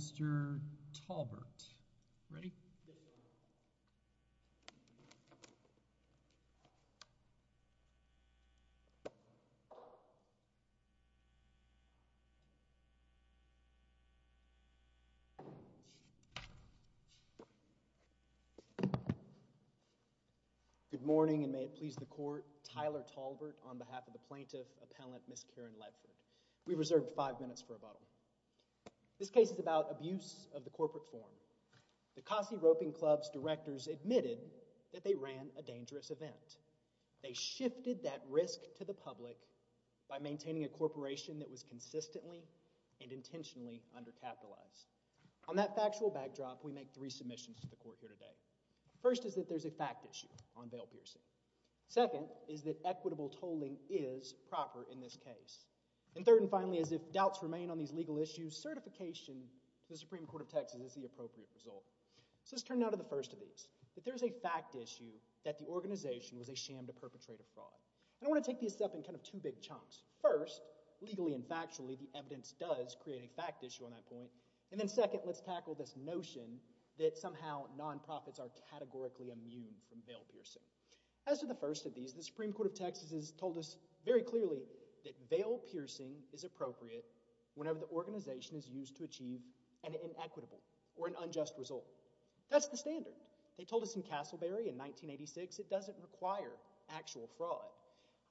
good morning and may it please the court Tyler Talbert on behalf of the plaintiff appellant miss Karen Ledford we reserved five minutes for a bottle this case is about abuse of the corporate form the Kossi Roping Club's directors admitted that they ran a dangerous event they shifted that risk to the public by maintaining a corporation that was consistently and intentionally undercapitalized on that factual backdrop we make three submissions to the court here today first is that there's a fact issue on Vail Pearson second is that equitable tolling is proper in this case and third finally as if doubts remain on these legal issues certification the Supreme Court of Texas is the appropriate result so let's turn now to the first of these but there's a fact issue that the organization was a sham to perpetrate a fraud I want to take this up in kind of two big chunks first legally and factually the evidence does create a fact issue on that point and then second let's tackle this notion that somehow nonprofits are categorically immune from Vail Pearson as to the first of these the Supreme Court of Texas has told us very clearly that Vail Pearson is appropriate whenever the organization is used to achieve an inequitable or an unjust result that's the standard they told us in Castleberry in 1986 it doesn't require actual fraud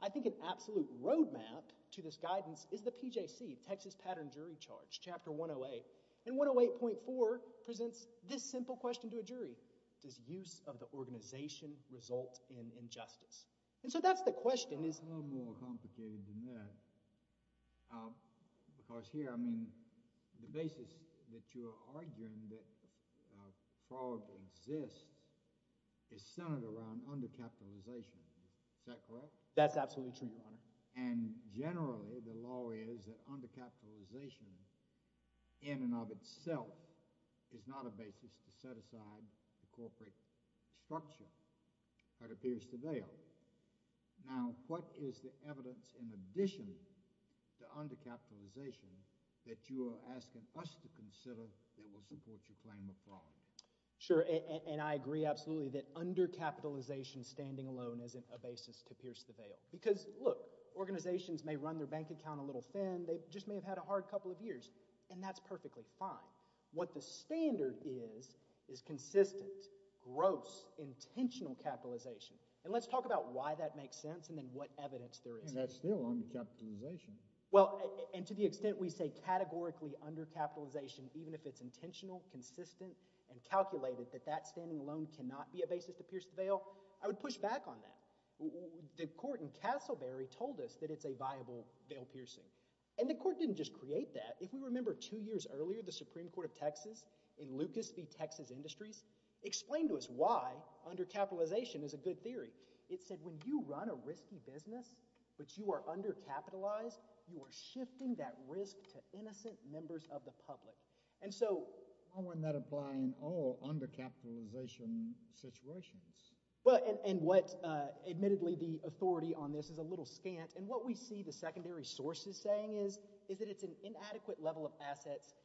I think an absolute roadmap to this guidance is the PJC Texas pattern jury charge chapter 108 and 108.4 presents this simple question to a jury does use of the because here I mean the basis that you are arguing that fraud exists is centered around under capitalization that's absolutely true and generally the law is that under capitalization in and of itself is not a basis to set aside the in addition to under capitalization that you are asking us to consider that will support your claim of fraud. Sure and I agree absolutely that under capitalization standing alone isn't a basis to pierce the veil because look organizations may run their bank account a little thin they just may have had a hard couple of years and that's perfectly fine what the standard is is consistent gross intentional capitalization and let's talk about why that makes sense and then what evidence there is still under capitalization well and to the extent we say categorically under capitalization even if it's intentional consistent and calculated that that standing alone cannot be a basis to pierce the veil I would push back on that the court in Castleberry told us that it's a viable veil piercing and the court didn't just create that if we remember two years earlier the Supreme Court of Texas in Lucas v. Texas Industries explained to us why under capitalization is a good theory it said when you run a risky business but you are under capitalized you are shifting that risk to innocent members of the public and so I want that apply in all under capitalization situations well and what admittedly the authority on this is a little scant and what we see the secondary sources saying is is that it's an inadequate level of assets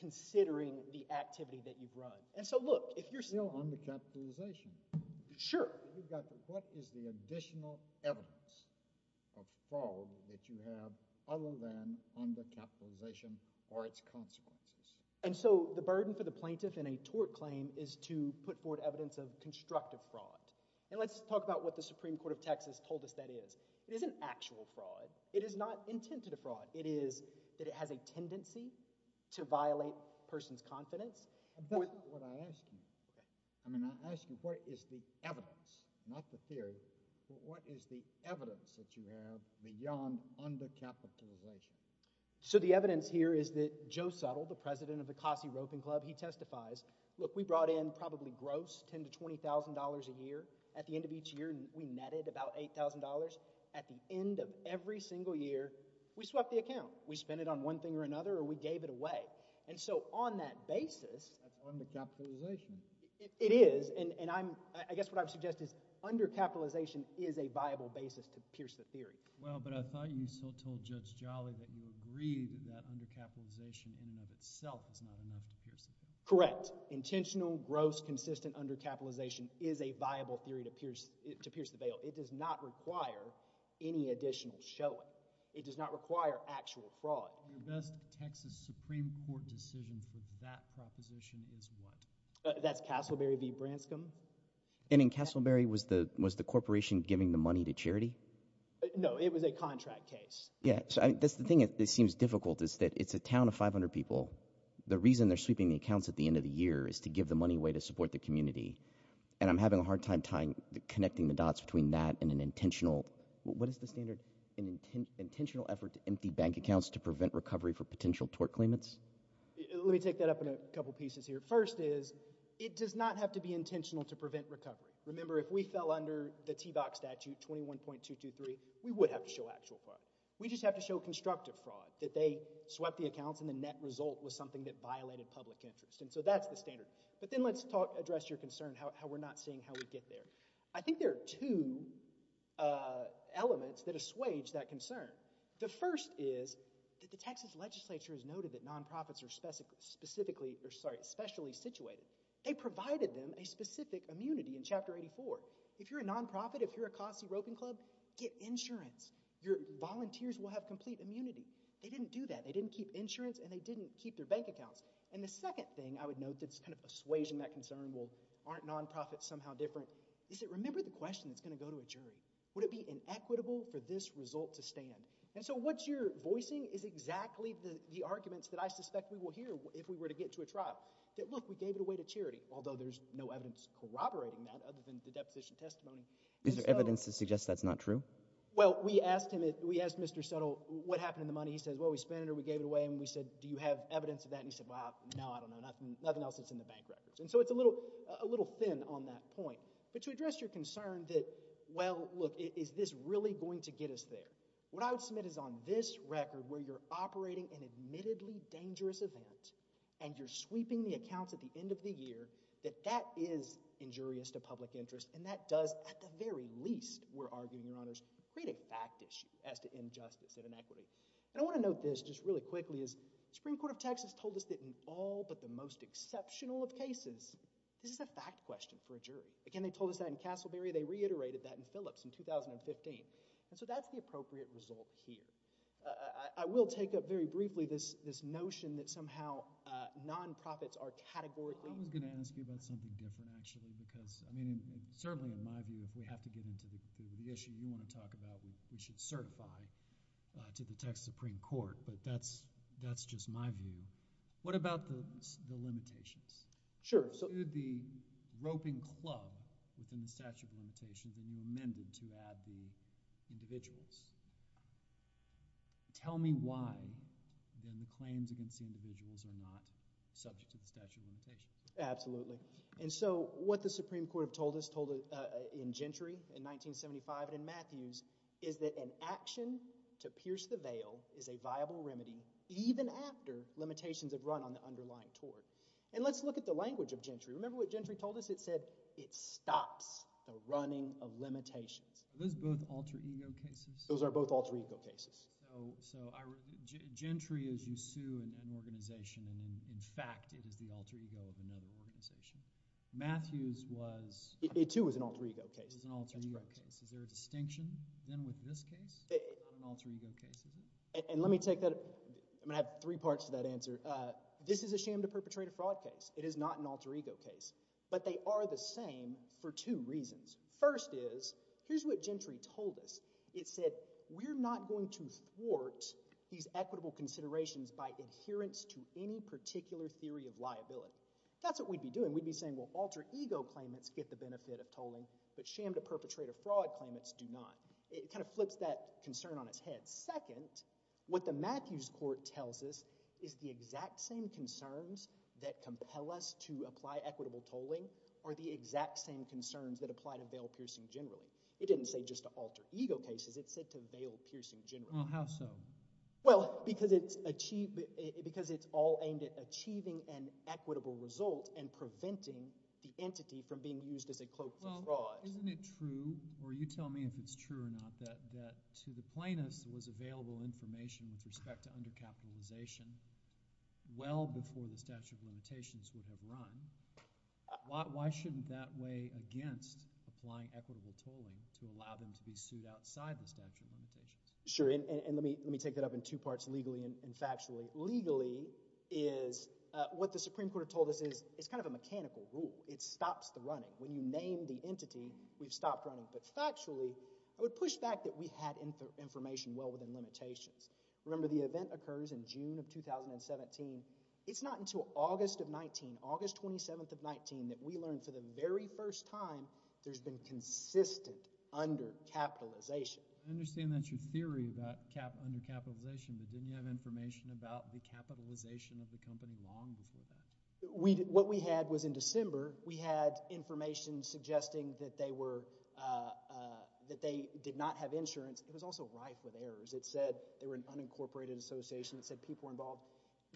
considering the activity that you've run and so look if you're still on the capitalization sure what is the additional evidence of fraud that you have other than under capitalization or its consequences and so the burden for the plaintiff in a tort claim is to put forward evidence of constructive fraud and let's talk about what the Supreme Court of Texas told us that is it is an actual fraud it is not intended a fraud it is that it has a I mean I ask you what is the evidence not the theory what is the evidence that you have beyond under capitalization so the evidence here is that Joe Suttle the president of the Cossie Roping Club he testifies look we brought in probably gross ten to twenty thousand dollars a year at the end of each year we netted about eight thousand dollars at the end of every single year we swept the account we spent it on one thing or another or we gave it away and so on that basis it is and and I'm I guess what I would suggest is under capitalization is a viable basis to pierce the theory well but I thought you so told Judge Jolly that you agreed that under capitalization in and of itself is not enough to pierce the bail. correct intentional gross consistent under capitalization is a viable theory to pierce it to pierce the bail it does not require any additional showing it does not require actual fraud that's Castleberry v. Branscombe and in Castleberry was the was the corporation giving the money to charity no it was a contract case yeah that's the thing it seems difficult is that it's a town of 500 people the reason they're sweeping the accounts at the end of the year is to give the money way to support the community and I'm having a hard time tying connecting the dots between that and an intentional what is the standard intentional effort to empty bank accounts to prevent recovery for potential tort claimants let me take that up in a couple pieces here first is it does not have to be intentional to prevent recovery remember if we fell under the t-box statute 21.223 we would have to show actual fraud we just have to show constructive fraud that they swept the accounts and the net result was something that violated public interest and so that's the standard but then let's talk address your concern how we're not seeing how we get there I would assuage that concern the first is that the Texas legislature has noted that nonprofits are specific specifically or sorry especially situated they provided them a specific immunity in chapter 84 if you're a nonprofit if you're a costly roping club get insurance your volunteers will have complete immunity they didn't do that they didn't keep insurance and they didn't keep their bank accounts and the second thing I would note that's kind of persuasion that concern will aren't nonprofits somehow different is it remember the question that's gonna go to a jury would it be inequitable for this result to stand and so what's your voicing is exactly the arguments that I suspect we will hear if we were to get to a trial that look we gave it away to charity although there's no evidence corroborating that other than the deposition testimony is there evidence to suggest that's not true well we asked him it we asked mr. subtle what happened in the money he says well we spend or we gave it away and we said do you have evidence of that and he said wow no I don't know nothing nothing else it's in the bank records and so it's a little a little thin on that point but to address your concern that well look is this really going to get us there what I would submit is on this record where you're operating an admittedly dangerous event and you're sweeping the accounts at the end of the year that that is injurious to public interest and that does at the very least we're arguing your honors create a fact issue as to injustice and inequity and I want to note this just really quickly is Supreme Court of Texas told us that in all but the most exceptional of cases this is a fact question for a jury again they told us that in Castleberry they reiterated that in Phillips in 2015 and so that's the appropriate result here I will take up very briefly this this notion that somehow nonprofits are categorically gonna ask you about something different actually because I mean certainly in my view if we have to get into the issue you want to talk about we should certify to the Texas Supreme Court but that's that's just my view what about the amended to add the individuals tell me why then the claims against the individuals are not subject to the statute of limitations absolutely and so what the Supreme Court told us told in Gentry in 1975 and in Matthews is that an action to pierce the veil is a viable remedy even after limitations have run on the underlying tort and let's look at the language of Gentry remember what Gentry told us it said it stops the running of limitations those are both alter ego cases so Gentry is you sue an organization and in fact it is the alter ego of another organization Matthews was it too was an alter ego case is there a distinction then with this case and let me take that I'm gonna have three parts to that answer this is a sham to perpetrate a fraud case it is not an alter ego but they are the same for two reasons first is here's what Gentry told us it said we're not going to thwart these equitable considerations by adherence to any particular theory of liability that's what we'd be doing we'd be saying well alter ego claimants get the benefit of tolling but sham to perpetrate a fraud claimants do not it kind of flips that concern on its head second what the Matthews court tells us is the exact same concerns that compel us to apply equitable tolling are the exact same concerns that apply to bail piercing generally it didn't say just to alter ego cases it said to bail piercing generally how so well because it's achieved because it's all aimed at achieving an equitable result and preventing the entity from being used as a cloak isn't it true or you tell me if it's true or not that to the plaintiffs was available information with respect to under capitalization well before the why shouldn't that way against applying equitable tolling to allow them to be sued outside the statute sure and let me let me take that up in two parts legally and factually legally is what the Supreme Court told us is it's kind of a mechanical rule it stops the running when you name the entity we've stopped running but factually I would push back that we had information well within limitations remember the event occurs in June of 2017 it's not until August of 19 August 27th of 19 that we learned for the very first time there's been consistent under capitalization I understand that your theory about cap under capitalization but didn't have information about the capitalization of the company long before that we did what we had was in December we had information suggesting that they were that they did not have insurance it was also rife with errors it said they were an unincorporated association that said people involved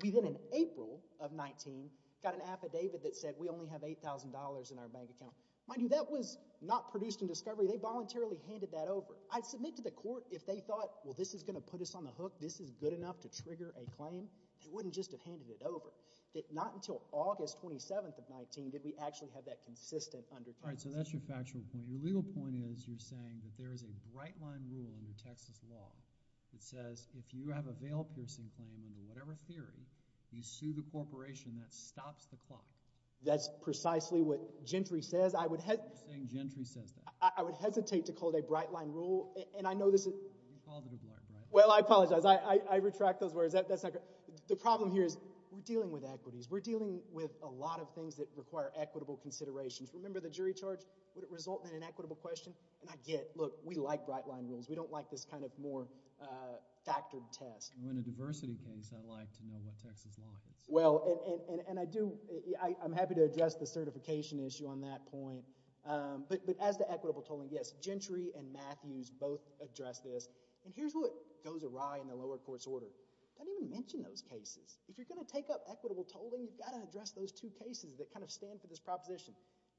even in April of 19 got an affidavit that said we only have $8,000 in our bank account money that was not produced in discovery they voluntarily handed that over I'd submit to the court if they thought well this is gonna put us on the hook this is good enough to trigger a claim it wouldn't just have handed it over that not until August 27th of 19 did we actually have that consistent under time so that's your factual point your legal point is you're saying that there is a right line rule in the Texas law it says if you have a veil piercing claim in whatever theory you sue the corporation that stops the clock that's precisely what Gentry says I would head Gentry says I would hesitate to call it a bright line rule and I know this well I apologize I retract those words that's not the problem here is we're dealing with equities we're dealing with a lot of things that require equitable considerations remember the jury charge would it result in an equitable question and I get look we like bright line rules we don't like this kind of more factored test when a diversity case I like to know what Texas law is well and I do I'm happy to address the certification issue on that point but as the equitable tolling yes Gentry and Matthews both address this and here's what goes awry in the lower courts order don't even mention those cases if you're gonna take up equitable tolling you've got to address those two cases that kind of stand for this proposition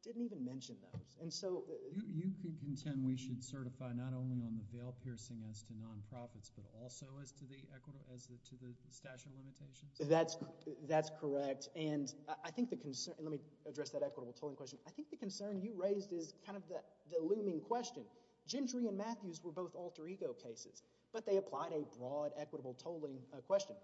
didn't even mention those and so you can contend we should certify not only on the bail piercing as to nonprofits but also as to the equity as to the statute of limitations that's that's correct and I think the concern let me address that equitable tolling question I think the concern you raised is kind of the looming question Gentry and Matthews were both alter-ego cases but they applied a broad equitable tolling a question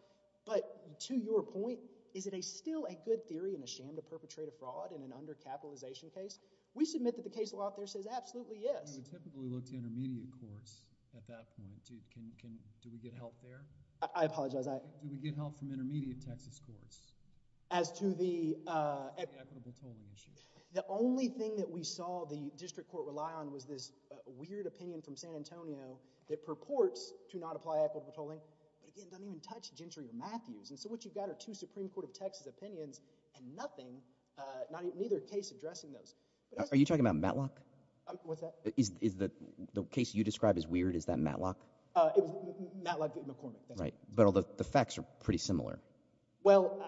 but to your point is it a still a good theory in the sham to perpetrate a fraud in an under capitalization case we submit that the case law out there absolutely yes the only thing that we saw the district court rely on was this weird opinion from San Antonio that purports to not apply equitable tolling don't even touch Gentry or Matthews and so what you've got are two Supreme Court of Texas opinions and nothing neither case addressing those are you talking about Matlock is the case you described as weird is that Matlock right but all the facts are pretty similar well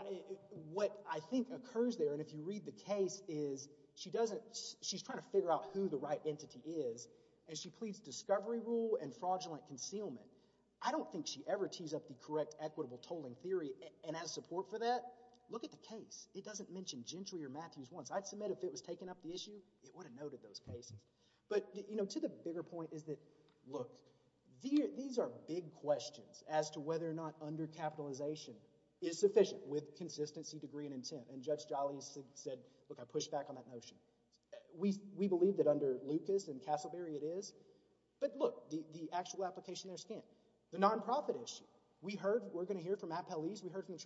what I think occurs there and if you read the case is she doesn't she's trying to figure out who the right entity is and she pleads discovery rule and fraudulent concealment I don't think she ever tees up the correct equitable tolling theory and as support for that look at the case it doesn't mention Gentry or Matthews once I'd submit if it was taken up the issue it would have noted those cases but you know to the bigger point is that look these are big questions as to whether or not under capitalization is sufficient with consistency degree and intent and judge Jolly said look I push back on that notion we we believe that under Lucas and Castleberry it is but look the actual application their skin the nonprofit issue we heard we're gonna hear from a police we heard from the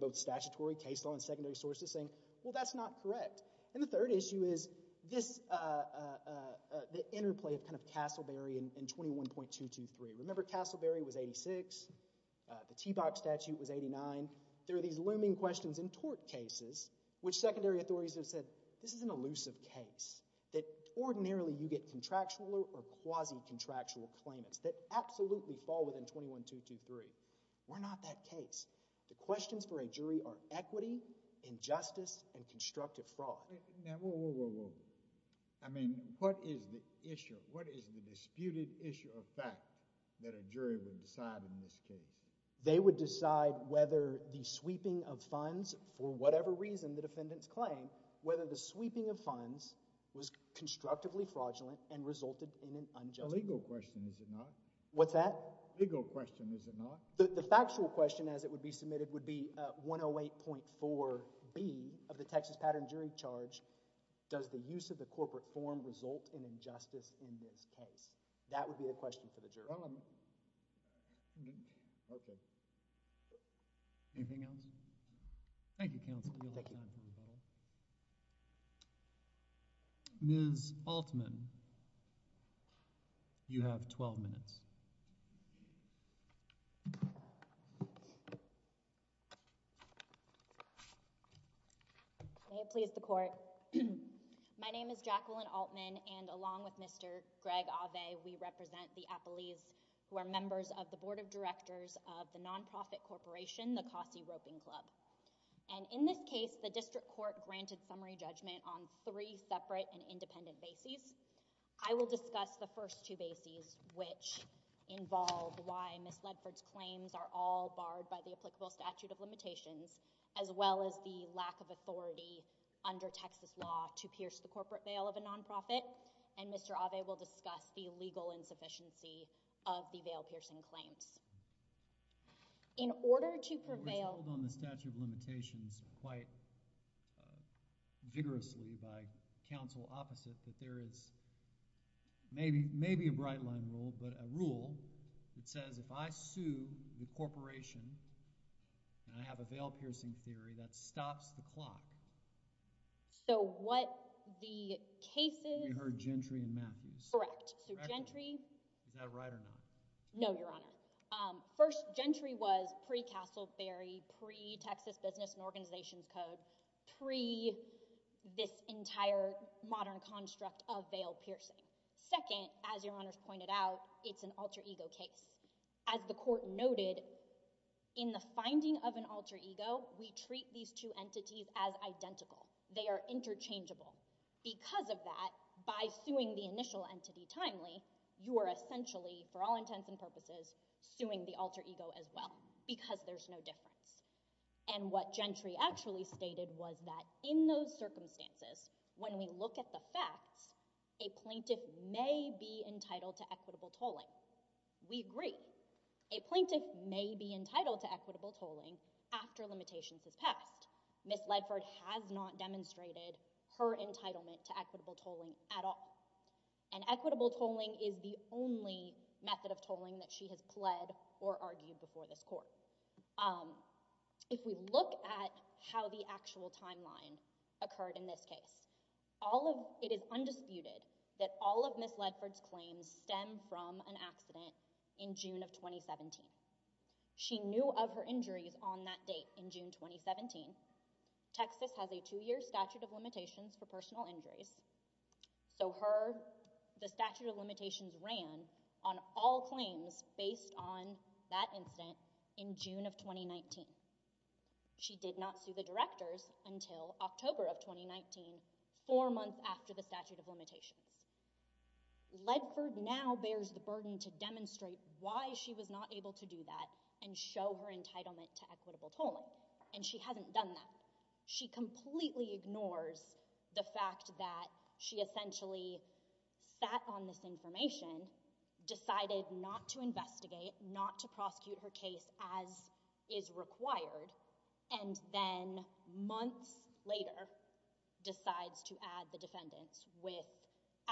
both statutory case on secondary sources saying well that's not correct and the third issue is this the interplay of kind of Castleberry and 21.223 remember Castleberry was 86 the teabag statute was 89 there are these looming questions in tort cases which secondary authorities have said this is an elusive case that ordinarily you get contractual or quasi contractual claimants that absolutely fall within 21.223 we're not that case the questions for a jury are equity injustice and constructive fraud I mean what is the issue what is the disputed issue of fact that a jury will decide in this case they would decide whether the sweeping of funds for whatever reason the defendants claim whether the sweeping of funds was constructively fraudulent and resulted in an unjust legal question is it not what's that legal question is it not the factual question as it would be submitted would be 108.4 B of the Texas Pattern Jury Charge does the use of the corporate form result in injustice in this case that would be a question for the juror okay anything else thank you counsel ms. Altman you have 12 minutes may it please the court my name is Jacqueline Altman and along with mr. Greg Ave we represent the appellees who are members of the board of directors of the nonprofit corporation the Kossi Roping Club and in this case the district court granted summary judgment on three separate and independent bases I will discuss the first two bases which involve why miss Ledford's claims are all barred by the applicable statute of limitations as well as the lack of authority under Texas law to pierce the corporate veil of a nonprofit and mr. Ave will discuss the legal insufficiency of the veil piercing claims in order to prevail on the statute of limitations quite vigorously by counsel opposite that there is maybe maybe a bright line rule but a rule that says if I sue the corporation and I have a veil piercing theory that stops the clock so what the cases her gentry and Matthews correct entry no your honor first gentry was pre Castleberry pre Texas business and organizations code pre this entire modern construct of veil piercing second as your honors pointed out it's an alter-ego case as the court noted in the finding of an alter-ego we treat these two entities as identical they are interchangeable because of that by suing the initial entity timely you are essentially for all intents and purposes suing the alter-ego as well because there's no difference and what gentry actually stated was that in those circumstances when we look at the facts a plaintiff may be entitled to equitable tolling we agree a plaintiff may be Miss Ledford has not demonstrated her entitlement to equitable tolling at all and equitable tolling is the only method of tolling that she has pled or argued before this court if we look at how the actual timeline occurred in this case all of it is undisputed that all of Miss Ledford's claims stem from an accident in June of 2017 she knew of her injuries on that date in June 2017 Texas has a two-year statute of limitations for personal injuries so her the statute of limitations ran on all claims based on that incident in June of 2019 she did not sue the directors until October of 2019 four months after the statute of was not able to do that and show her entitlement to equitable tolling and she hasn't done that she completely ignores the fact that she essentially sat on this information decided not to investigate not to prosecute her case as is required and then months later decides to add the defendants with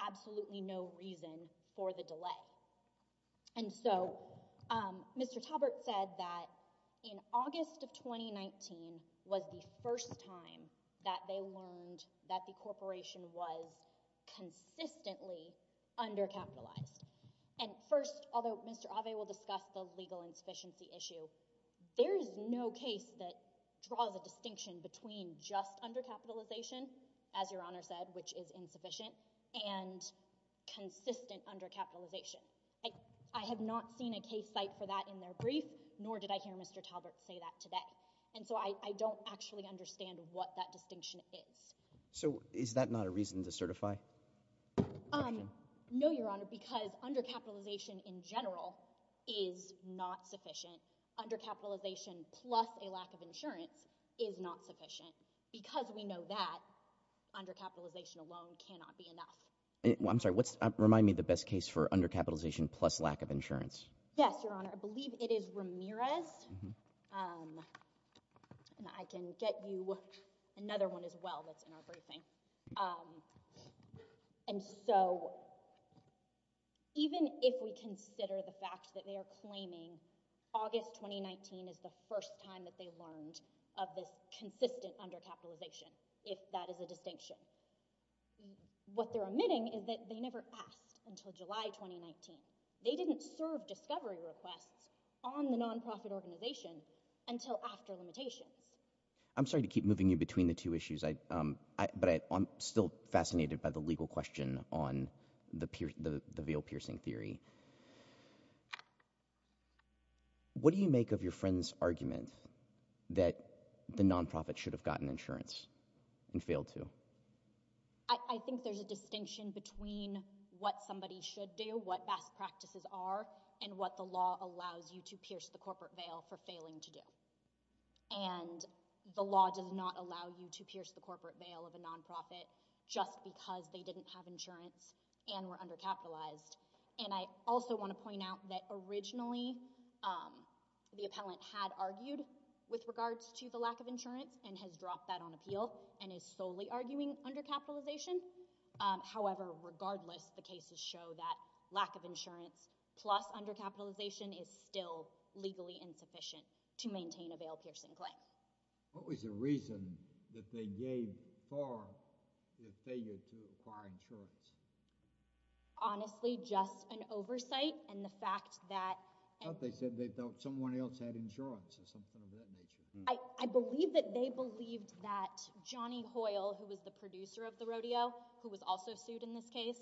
absolutely no reason for the delay and so mr. Talbert said that in August of 2019 was the first time that they learned that the corporation was consistently undercapitalized and first although mr. Abe will discuss the legal insufficiency issue there is no case that draws a distinction between just undercapitalization as your honor said which is insufficient and consistent undercapitalization I have not seen a case site for that in their brief nor did I hear mr. Talbert say that today and so I don't actually understand what that distinction is so is that not a reason to certify um no your honor because undercapitalization in general is not sufficient undercapitalization plus a lack of insurance is not sufficient because we know that undercapitalization alone cannot be enough I'm sorry what's remind me the best case for undercapitalization plus lack of insurance yes your honor I believe it is Ramirez and I can get you another one as well that's in our briefing and so even if we consider the fact that they are claiming August 2019 is the first time that they learned of this consistent undercapitalization if that is a distinction what they're omitting is that they never asked until July 2019 they didn't serve discovery requests on the nonprofit organization until after limitations I'm sorry to keep moving you between the two issues I but I'm still fascinated by the legal question on the pier the veil piercing theory what do you make of your friends argument that the nonprofit should have gotten insurance and failed to I think there's a distinction between what somebody should do what best practices are and what the law allows you to pierce the corporate veil for failing to do and the law does not allow you to pierce the corporate veil of a nonprofit just because they didn't have insurance and were undercapitalized and I also want to point out that originally the appellant had argued with regards to the lack of insurance and has dropped that on appeal and is solely arguing undercapitalization however regardless the cases show that lack of insurance plus undercapitalization is still legally insufficient to maintain a bail piercing claim what was the reason that they gave honestly just an oversight and the fact that they said they felt someone else had insurance I I believe that they believed that Johnny Hoyle who was the producer of the rodeo who was also sued in this case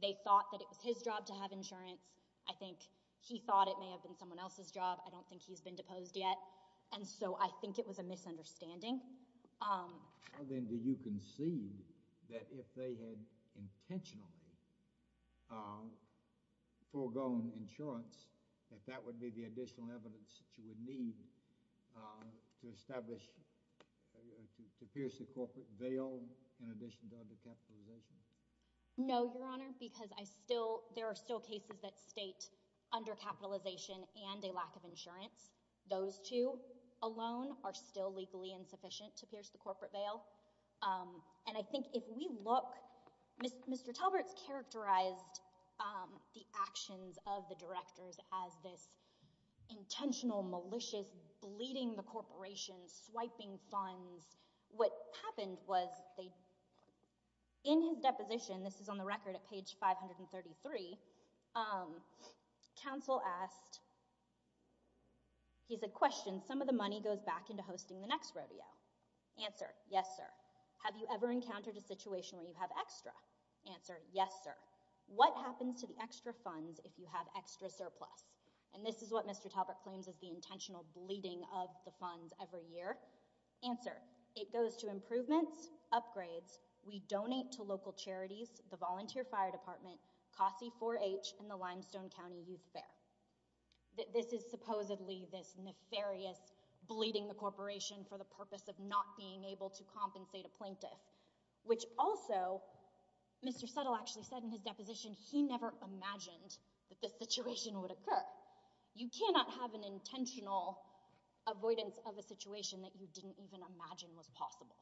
they thought that it was his job to have insurance I think he thought it may have been someone else's job I don't think he's been deposed yet and so I think it was a you can see that if they had intentionally foregone insurance that that would be the additional evidence you would need to establish to pierce the corporate veil in addition to undercapitalization no your honor because I still there are still cases that state undercapitalization and a lack of insurance those two alone are still legally insufficient to pierce the corporate veil and I think if we look Mr. Talbert's characterized the actions of the directors as this intentional malicious bleeding the corporation swiping funds what happened was they in his deposition this is on the record at page 533 counsel asked he's a question some of the money goes back into hosting the next rodeo answer yes sir have you ever encountered a situation we have extra answer yes sir what happens to the extra funds if you have extra surplus and this is what Mr. Talbert claims is the intentional bleeding of the funds every year answer it goes to improvements upgrades we donate to local charities the volunteer fire department Cosby 4-H in the corporation for the purpose of not being able to compensate a plaintiff which also Mr. Settle actually said in his deposition he never imagined that this situation would occur you cannot have an intentional avoidance of a situation that you didn't even imagine was possible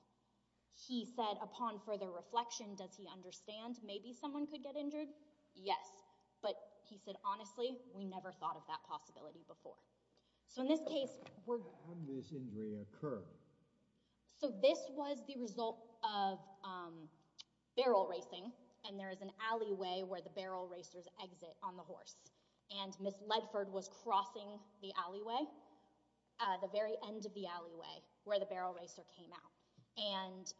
he said upon further reflection does he understand maybe someone could get injured yes but he said honestly we so this was the result of barrel racing and there is an alleyway where the barrel racers exit on the horse and miss Ledford was crossing the alleyway the very end of the alleyway where the barrel racer came out and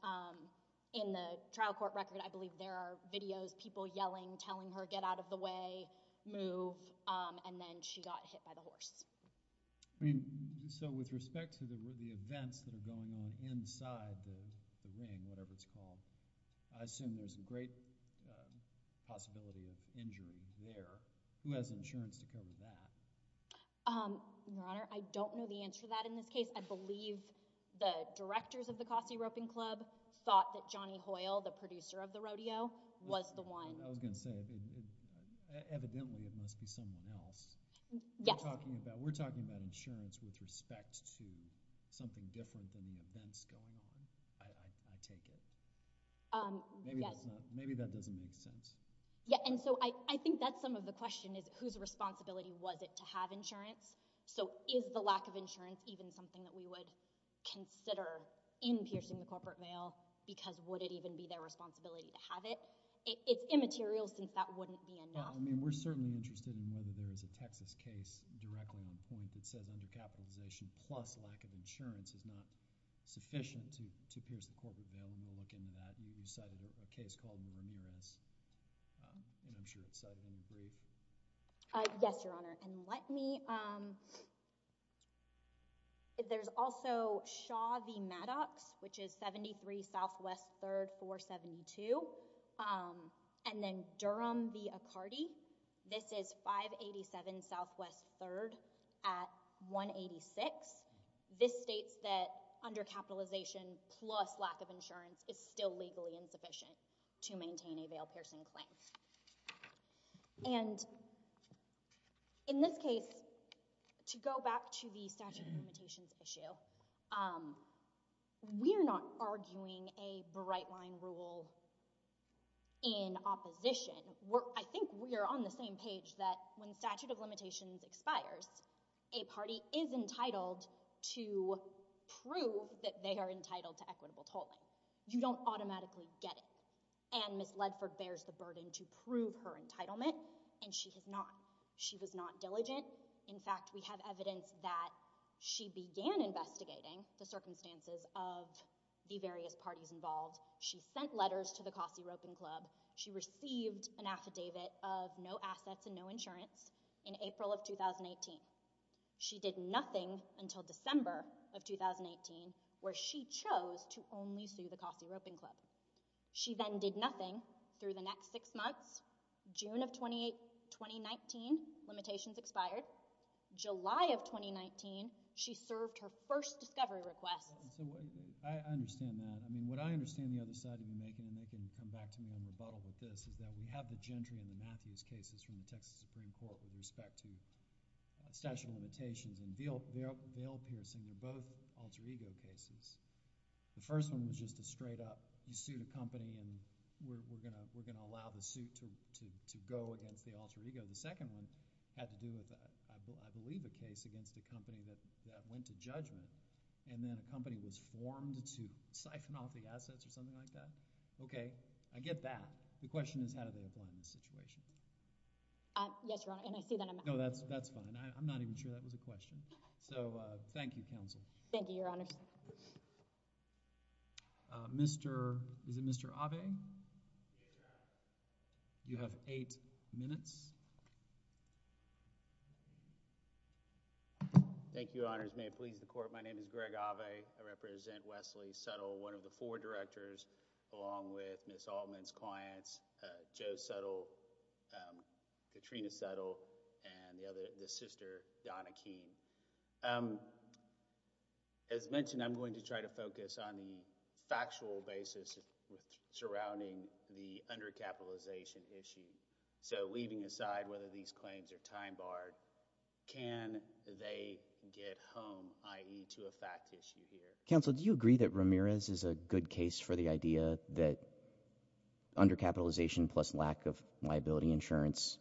in the trial court record I believe there are videos people yelling telling her get out of the way move and then she got hit by the horse I mean so with respect to the events that are going on inside the ring whatever it's called I assume there's a great possibility of injury there who has insurance to cover that I don't know the answer to that in this case I believe the directors of the Cosby roping club thought that Johnny Hoyle the producer of the rodeo was the one I was gonna say evidently it must be someone else yeah talking about we're talking about insurance with respect to something different than the events going on I take it maybe maybe that doesn't make sense yeah and so I think that's some of the question is whose responsibility was it to have insurance so is the lack of insurance even something that we would consider in piercing the corporate mail because would it even be their responsibility to immaterial since that wouldn't be we're certainly interested in whether there is a Texas case directly on point that says under capitalization plus lack of insurance is not sufficient to to pierce the corporate bill and we'll look into that. You cited a case called the Ramirez and I'm sure it's cited in the brief. Yes your honor and let me there's also Shaw v. Maddox which is 73 Southwest 3rd 472 and then Durham v. Accardi this is 587 Southwest 3rd at 186 this states that under capitalization plus lack of insurance is still legally insufficient to maintain a bail piercing claim and in this case to go back to the statute of limitations issue we're not arguing a bright line rule in opposition where I think we are on the same page that when statute of limitations expires a party is entitled to prove that they are entitled to equitable tolling you don't automatically get it and Miss Ledford bears the burden to prove her entitlement and she has not she was not diligent in fact we have evidence that she began investigating the circumstances of the various parties involved she sent letters to the Kossi Roping Club she received an affidavit of no assets and no insurance in April of 2018 she did nothing until December of 2018 where she chose to only sue the Kossi Roping Club she then did nothing through the next six months June of 28 2019 limitations expired July of 2019 she served her first discovery request I understand that I mean what I understand the other side of the making and they can come back to me on rebuttal with this is that we have the Gentry and the Matthews cases from the Texas Supreme Court with respect to statute of limitations and bail piercing they're both alter ego cases the first one was just a straight-up you sued a company and we're gonna we're gonna allow the suit to go against the alter ego the second one had to do with that I believe a case against a company that went to judgment and then a company was formed to siphon off the assets or something like that okay I get that the question is how do they apply in this situation no that's that's fine I'm not even sure that was a question so thank you counsel thank you your honor mr. is it mr. Ave you have eight minutes thank you honors may it please the court my name is Greg Ave I represent Wesley subtle one of the four directors along with Miss Altman's clients Joe subtle Katrina subtle and the other the sister Donna keen as mentioned I'm going to try to focus on the factual basis surrounding the under capitalization issue so leaving aside whether these claims are time-barred can they get home ie to a fact issue here counsel do you agree that Ramirez is a good case for the idea that under capitalization plus lack of liability insurance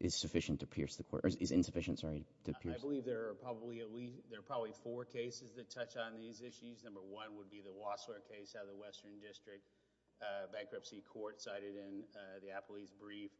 is sufficient to pierce the court is insufficient sorry I believe there are probably at least there are probably four cases that touch on these issues number one would be the Wassler case out of the Western District bankruptcy court cited in the Apple he's brief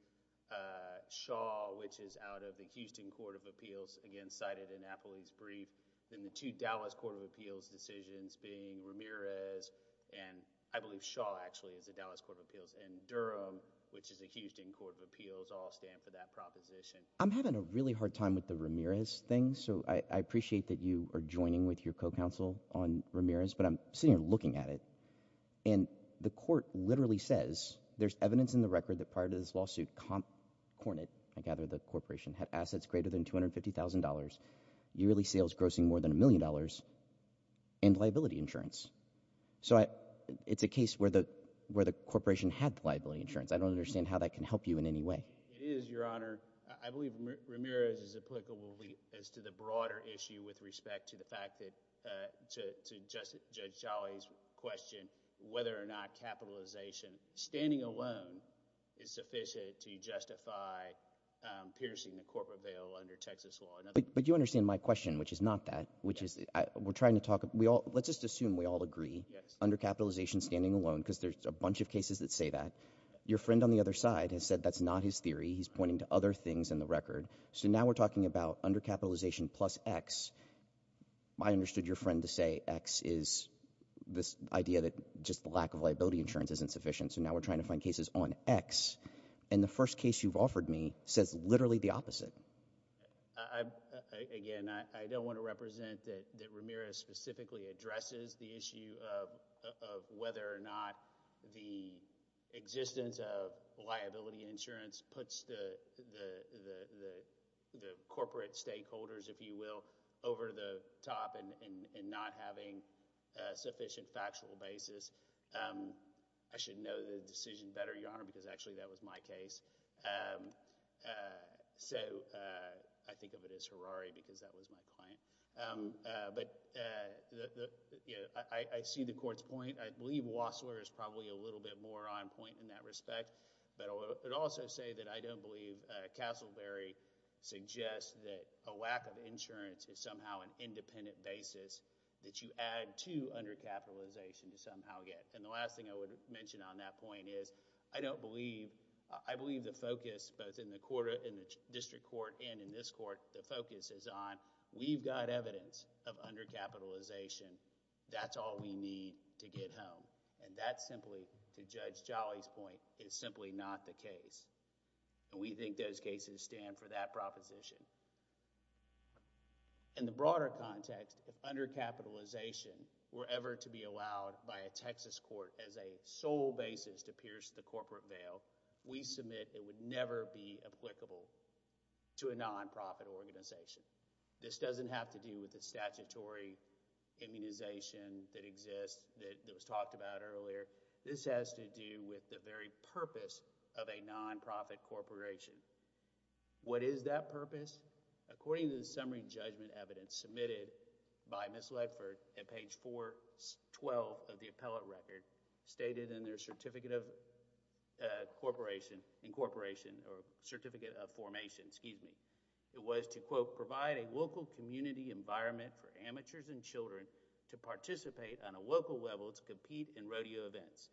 Shaw which is out of the Houston Court of Appeals again cited in Apple he's brief then the to Dallas Court of Appeals decisions being Ramirez and I believe Shaw actually is a Dallas Court of Appeals and Durham which is accused in Court of Appeals all stand for that proposition I'm having a really hard time with the Ramirez thing so I appreciate that you are joining with your co-counsel on Ramirez but I'm sitting here looking at it and the court literally says there's evidence in the record that prior to this lawsuit comp Hornet I gather the corporation had assets greater than $250,000 yearly sales grossing more than a million dollars and liability insurance so I it's a case where the where the corporation had liability insurance I don't understand how that can help you in any way is your honor I believe Ramirez is applicable as to the broader issue with respect to the fact that to just judge Charlie's question whether or not capitalization standing alone is sufficient to justify piercing the corporate bail under Texas law but you understand my question which is not that which is we're trying to talk we all let's just assume we all agree under capitalization standing alone because there's a bunch of cases that say that your friend on the other side has said that's not his theory he's pointing to other things in the record so now we're talking about under capitalization plus X I understood your friend to say X is this idea that just the lack of liability insurance isn't sufficient so now we're trying to find cases on X and the first case you've offered me says literally the opposite I don't want to represent that Ramirez specifically addresses the issue of whether or not the existence of liability insurance puts the corporate stakeholders if you will over the top and not having sufficient factual basis I should know the decision better your honor because actually that was my case so I think of it as Harari because that was my client but I see the court's point I believe Wassler is probably a little bit more on point in that respect but I would also say that I don't believe Castleberry suggests that a lack of insurance is somehow an independent basis that you add to undercapitalization to somehow get and the last thing I would mention on that point is I don't believe I believe the focus both in the court in the district court and in this court the focus is on we've got evidence of undercapitalization that's all we need to get home and that's simply to Judge Jolly's point is simply not the case and we think those cases stand for that undercapitalization were ever to be allowed by a Texas court as a sole basis to pierce the corporate veil we submit it would never be applicable to a nonprofit organization this doesn't have to do with the statutory immunization that exists that was talked about earlier this has to do with the very purpose of a nonprofit corporation what is that purpose according to the summary judgment evidence submitted by Miss Ledford at page 412 of the appellate record stated in their certificate of corporation incorporation or certificate of formation excuse me it was to quote provide a local community environment for amateurs and children to participate on a local level to compete in rodeo events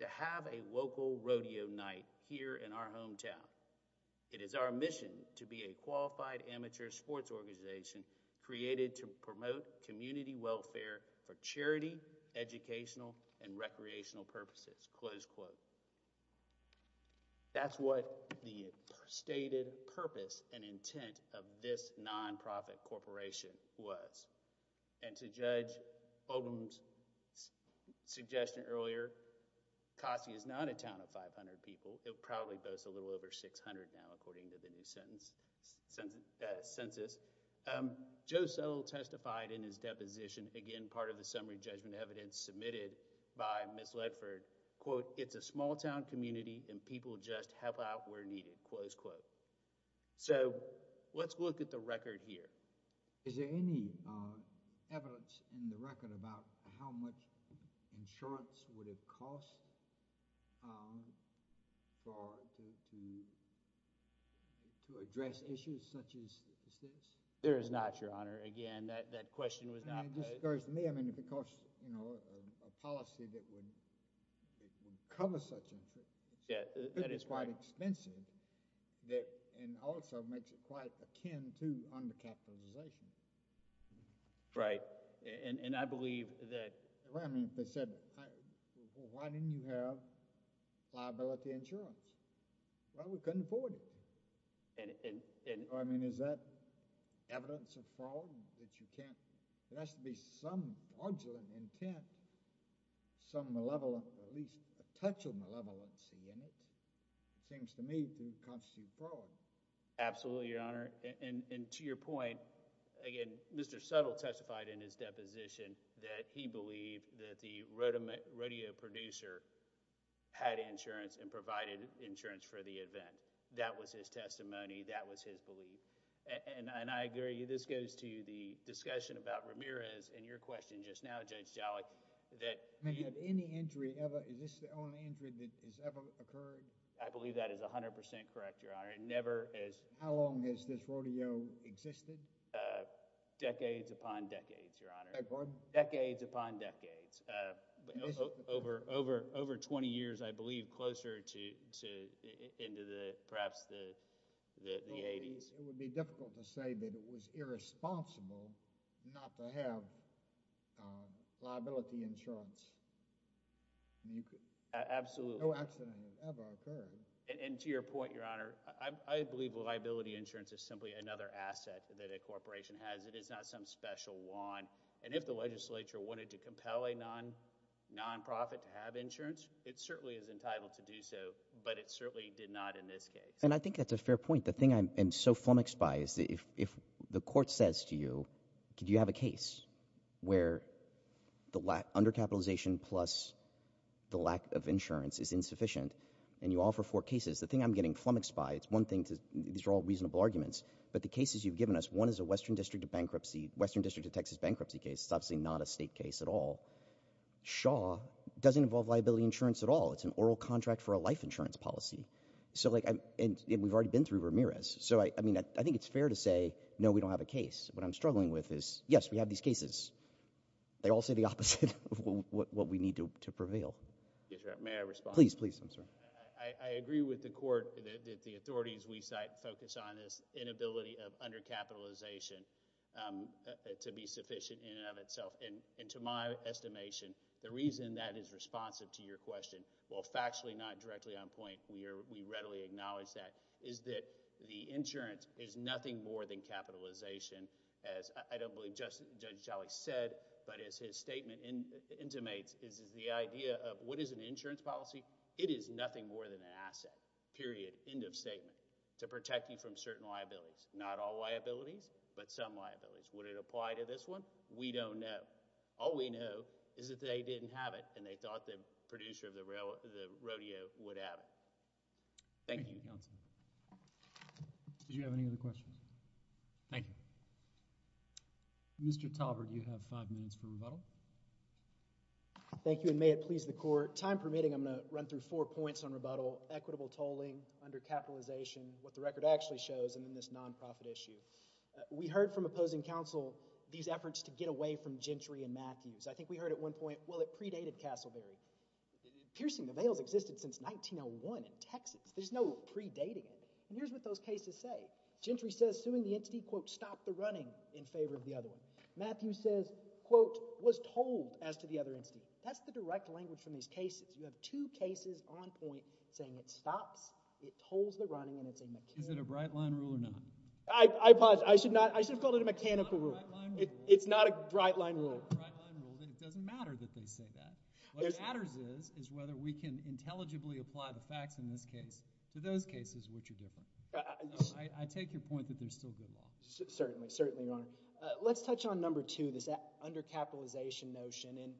to have a local rodeo night here in our hometown it is our mission to be a qualified amateur sports organization created to promote community welfare for charity educational and recreational purposes close quote that's what the stated purpose and intent of this nonprofit corporation was and to judge Odom's suggestion earlier Kasi is not a town of census census Joe Settle testified in his deposition again part of the summary judgment evidence submitted by Miss Ledford quote it's a small-town community and people just help out where needed close quote so let's look at the record here is there any evidence in the record about how much insurance would it address issues such as there is not your honor again that question was not because you know a policy that would cover such a yeah that is quite expensive that and also makes it quite akin to undercapitalization right and I believe that I mean they said why didn't you have liability insurance well we couldn't afford it and I mean is that evidence of fraud that you can't it has to be some arduous intent some malevolent at least a touch of malevolence in it seems to me to constitute fraud absolutely your honor and to your point again mr. Settle testified in his deposition that he believed that the rodeo producer had insurance and provided insurance for the event that was his testimony that was his belief and I agree this goes to the discussion about Ramirez and your question just now judge Jalik that any injury ever is this the only injury that has ever occurred I believe that is a no existed decades upon decades your honor decades upon decades over over over 20 years I believe closer to into the perhaps the 80s it would be difficult to say that it was irresponsible not to have liability insurance absolutely and to your point your honor I believe a liability insurance is simply another asset that a corporation has it is not some special one and if the legislature wanted to compel a non-profit to have insurance it certainly is entitled to do so but it certainly did not in this case and I think that's a fair point the thing I'm so flummoxed by is that if the court says to you could you have a case where the lack under capitalization plus the lack of insurance is insufficient and you offer four cases the thing I'm not asking for a reasonable arguments but the cases you've given us one is a Western District bankruptcy Western District of Texas bankruptcy case obviously not a state case at all Shaw doesn't involve liability insurance at all it's an oral contract for a life insurance policy so like I'm and we've already been through Ramirez so I mean I think it's fair to say no we don't have a case what I'm struggling with is yes we have these cases they all say the opposite of what we need to prevail. I agree with the court that the authorities we site focus on this inability of undercapitalization to be sufficient in and of itself and into my estimation the reason that is responsive to your question well factually not directly on point we are we readily acknowledge that is that the insurance is nothing more than capitalization as I don't believe just judge Charlie said but as his statement intimates is the idea of what is an insurance policy it is nothing more than an asset period end of statement to protect you from certain liabilities not all liabilities but some liabilities would it apply to this one we don't know all we know is that they didn't have it and they thought the producer of the rail the rodeo would have it thank you did you have any other questions thank you mr. Talbert you have five minutes for rebuttal thank you and may it please the court time permitting I'm gonna run through four points on rebuttal equitable tolling under capitalization what the record actually shows and in this nonprofit issue we heard from opposing counsel these efforts to get away from Gentry and Matthews I think we heard at one point well it predated Castleberry piercing avails existence since 1901 in Texas there's no predating it here's what those cases say Gentry says suing the entity quote stop the running in favor of the other one Matthew says quote was told as to the other instant that's the direct language from these cases you have two cases on point saying it stops it holds the running and it's a mechanic a bright line rule or not I pause I should not I should call it a mechanical rule it's not a bright line rule it matters is is whether we can intelligibly apply the facts in this case to those cases which are different I take your point that there's still good law certainly certainly on let's touch on number two this under capitalization notion and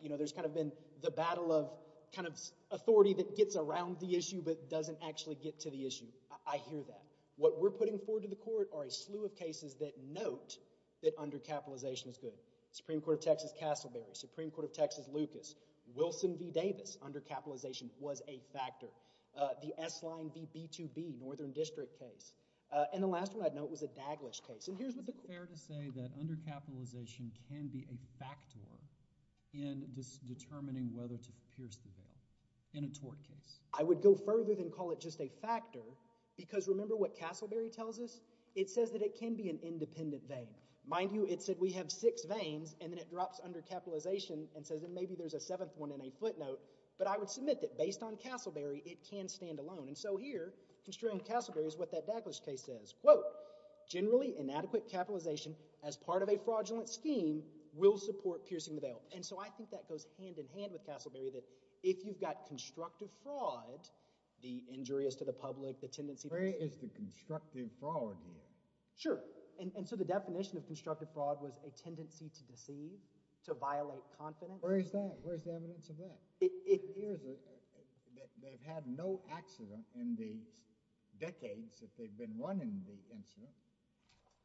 you know there's kind of been the battle of kind of authority that gets around the issue but doesn't actually get to the issue I hear that what we're putting forward to the court are a slew of cases that note that under capitalization is good Supreme Court of Texas Castleberry Supreme Court of Texas Lucas Wilson v Davis under capitalization was a factor the s-line bb2b Northern District case and the last one I'd know it was a daglish case and here's what the clear to say that under capitalization can be a factor in determining whether to pierce the door in a tort case I would go further than call it just a factor because remember what Castleberry tells us it says that it can be an independent vein mind you it said we have six veins and then it drops under capitalization and says that maybe there's a seventh one in a footnote but I would submit that based on Castleberry it can stand alone and so here construing Castleberry is what that daglish case says well generally inadequate capitalization as part of a fraudulent scheme will support piercing the veil and so I think that goes hand-in-hand with Castleberry that if you've got constructive fraud the injury is to the public the tendency is the constructive fraud sure and so the definition of constructive fraud was a tendency to deceive to violate confidence where is that where's the evidence of that it appears that they've had no accident in these decades that they've been running the incident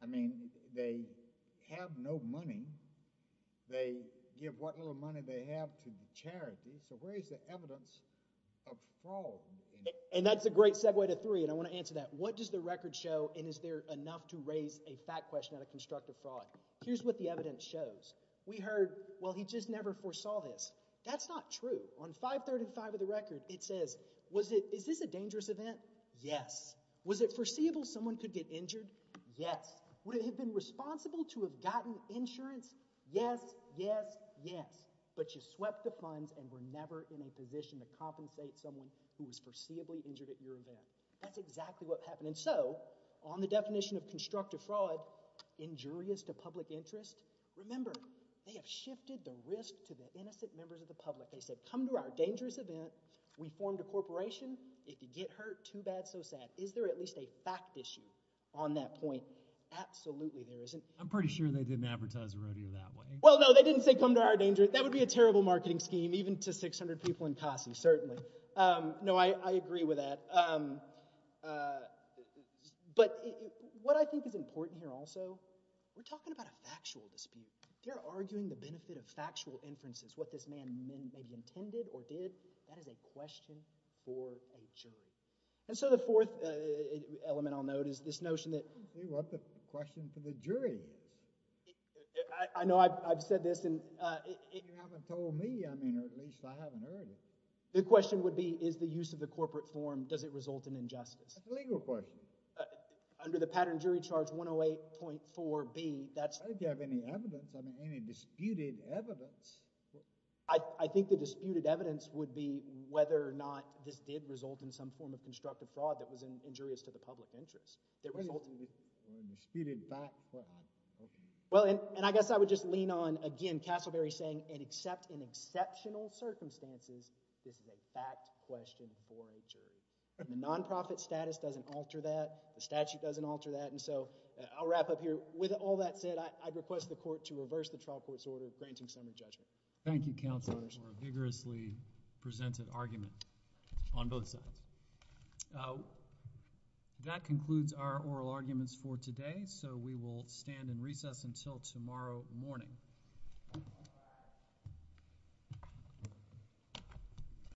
I mean they have no money they give what little money they have to charity so where is the evidence of fall and that's a great segue to three and I want to answer that what does the record show and is there enough to raise a fact question out of constructive fraud here's what the evidence shows we heard well he just never foresaw this that's not true on 535 of the record it says was it is this a dangerous event yes was it foreseeable someone could get injured yes would it have been responsible to have gotten insurance yes yes yes but you swept the funds and were never in a position to compensate someone who was foreseeably injured at your event that's constructive fraud injurious to public interest remember they have shifted the risk to the innocent members of the public they said come to our dangerous event we formed a corporation if you get hurt too bad so sad is there at least a fact issue on that point absolutely there isn't I'm pretty sure they didn't advertise rodeo that way well no they didn't say come to our danger that would be a terrible marketing scheme even to what I think is important here also we're talking about a factual dispute they're arguing the benefit of factual inferences what this man maybe intended or did that is a question for a jury and so the fourth element I'll note is this notion that what the question for the jury I know I've said this and the question would be is the use of the corporate form does it result in jury charge 108.4 be that's I think the disputed evidence would be whether or not this did result in some form of constructive fraud that was injurious to the public interest well and I guess I would just lean on again Castleberry saying and except in exceptional circumstances this is a fact question for a jury the nonprofit status doesn't alter that the statute doesn't alter that and so I'll wrap up here with all that said I'd request the court to reverse the trial court's order granting some of judgment thank you counsel vigorously presented argument on both sides that concludes our oral arguments for today so we will stand in recess until tomorrow morning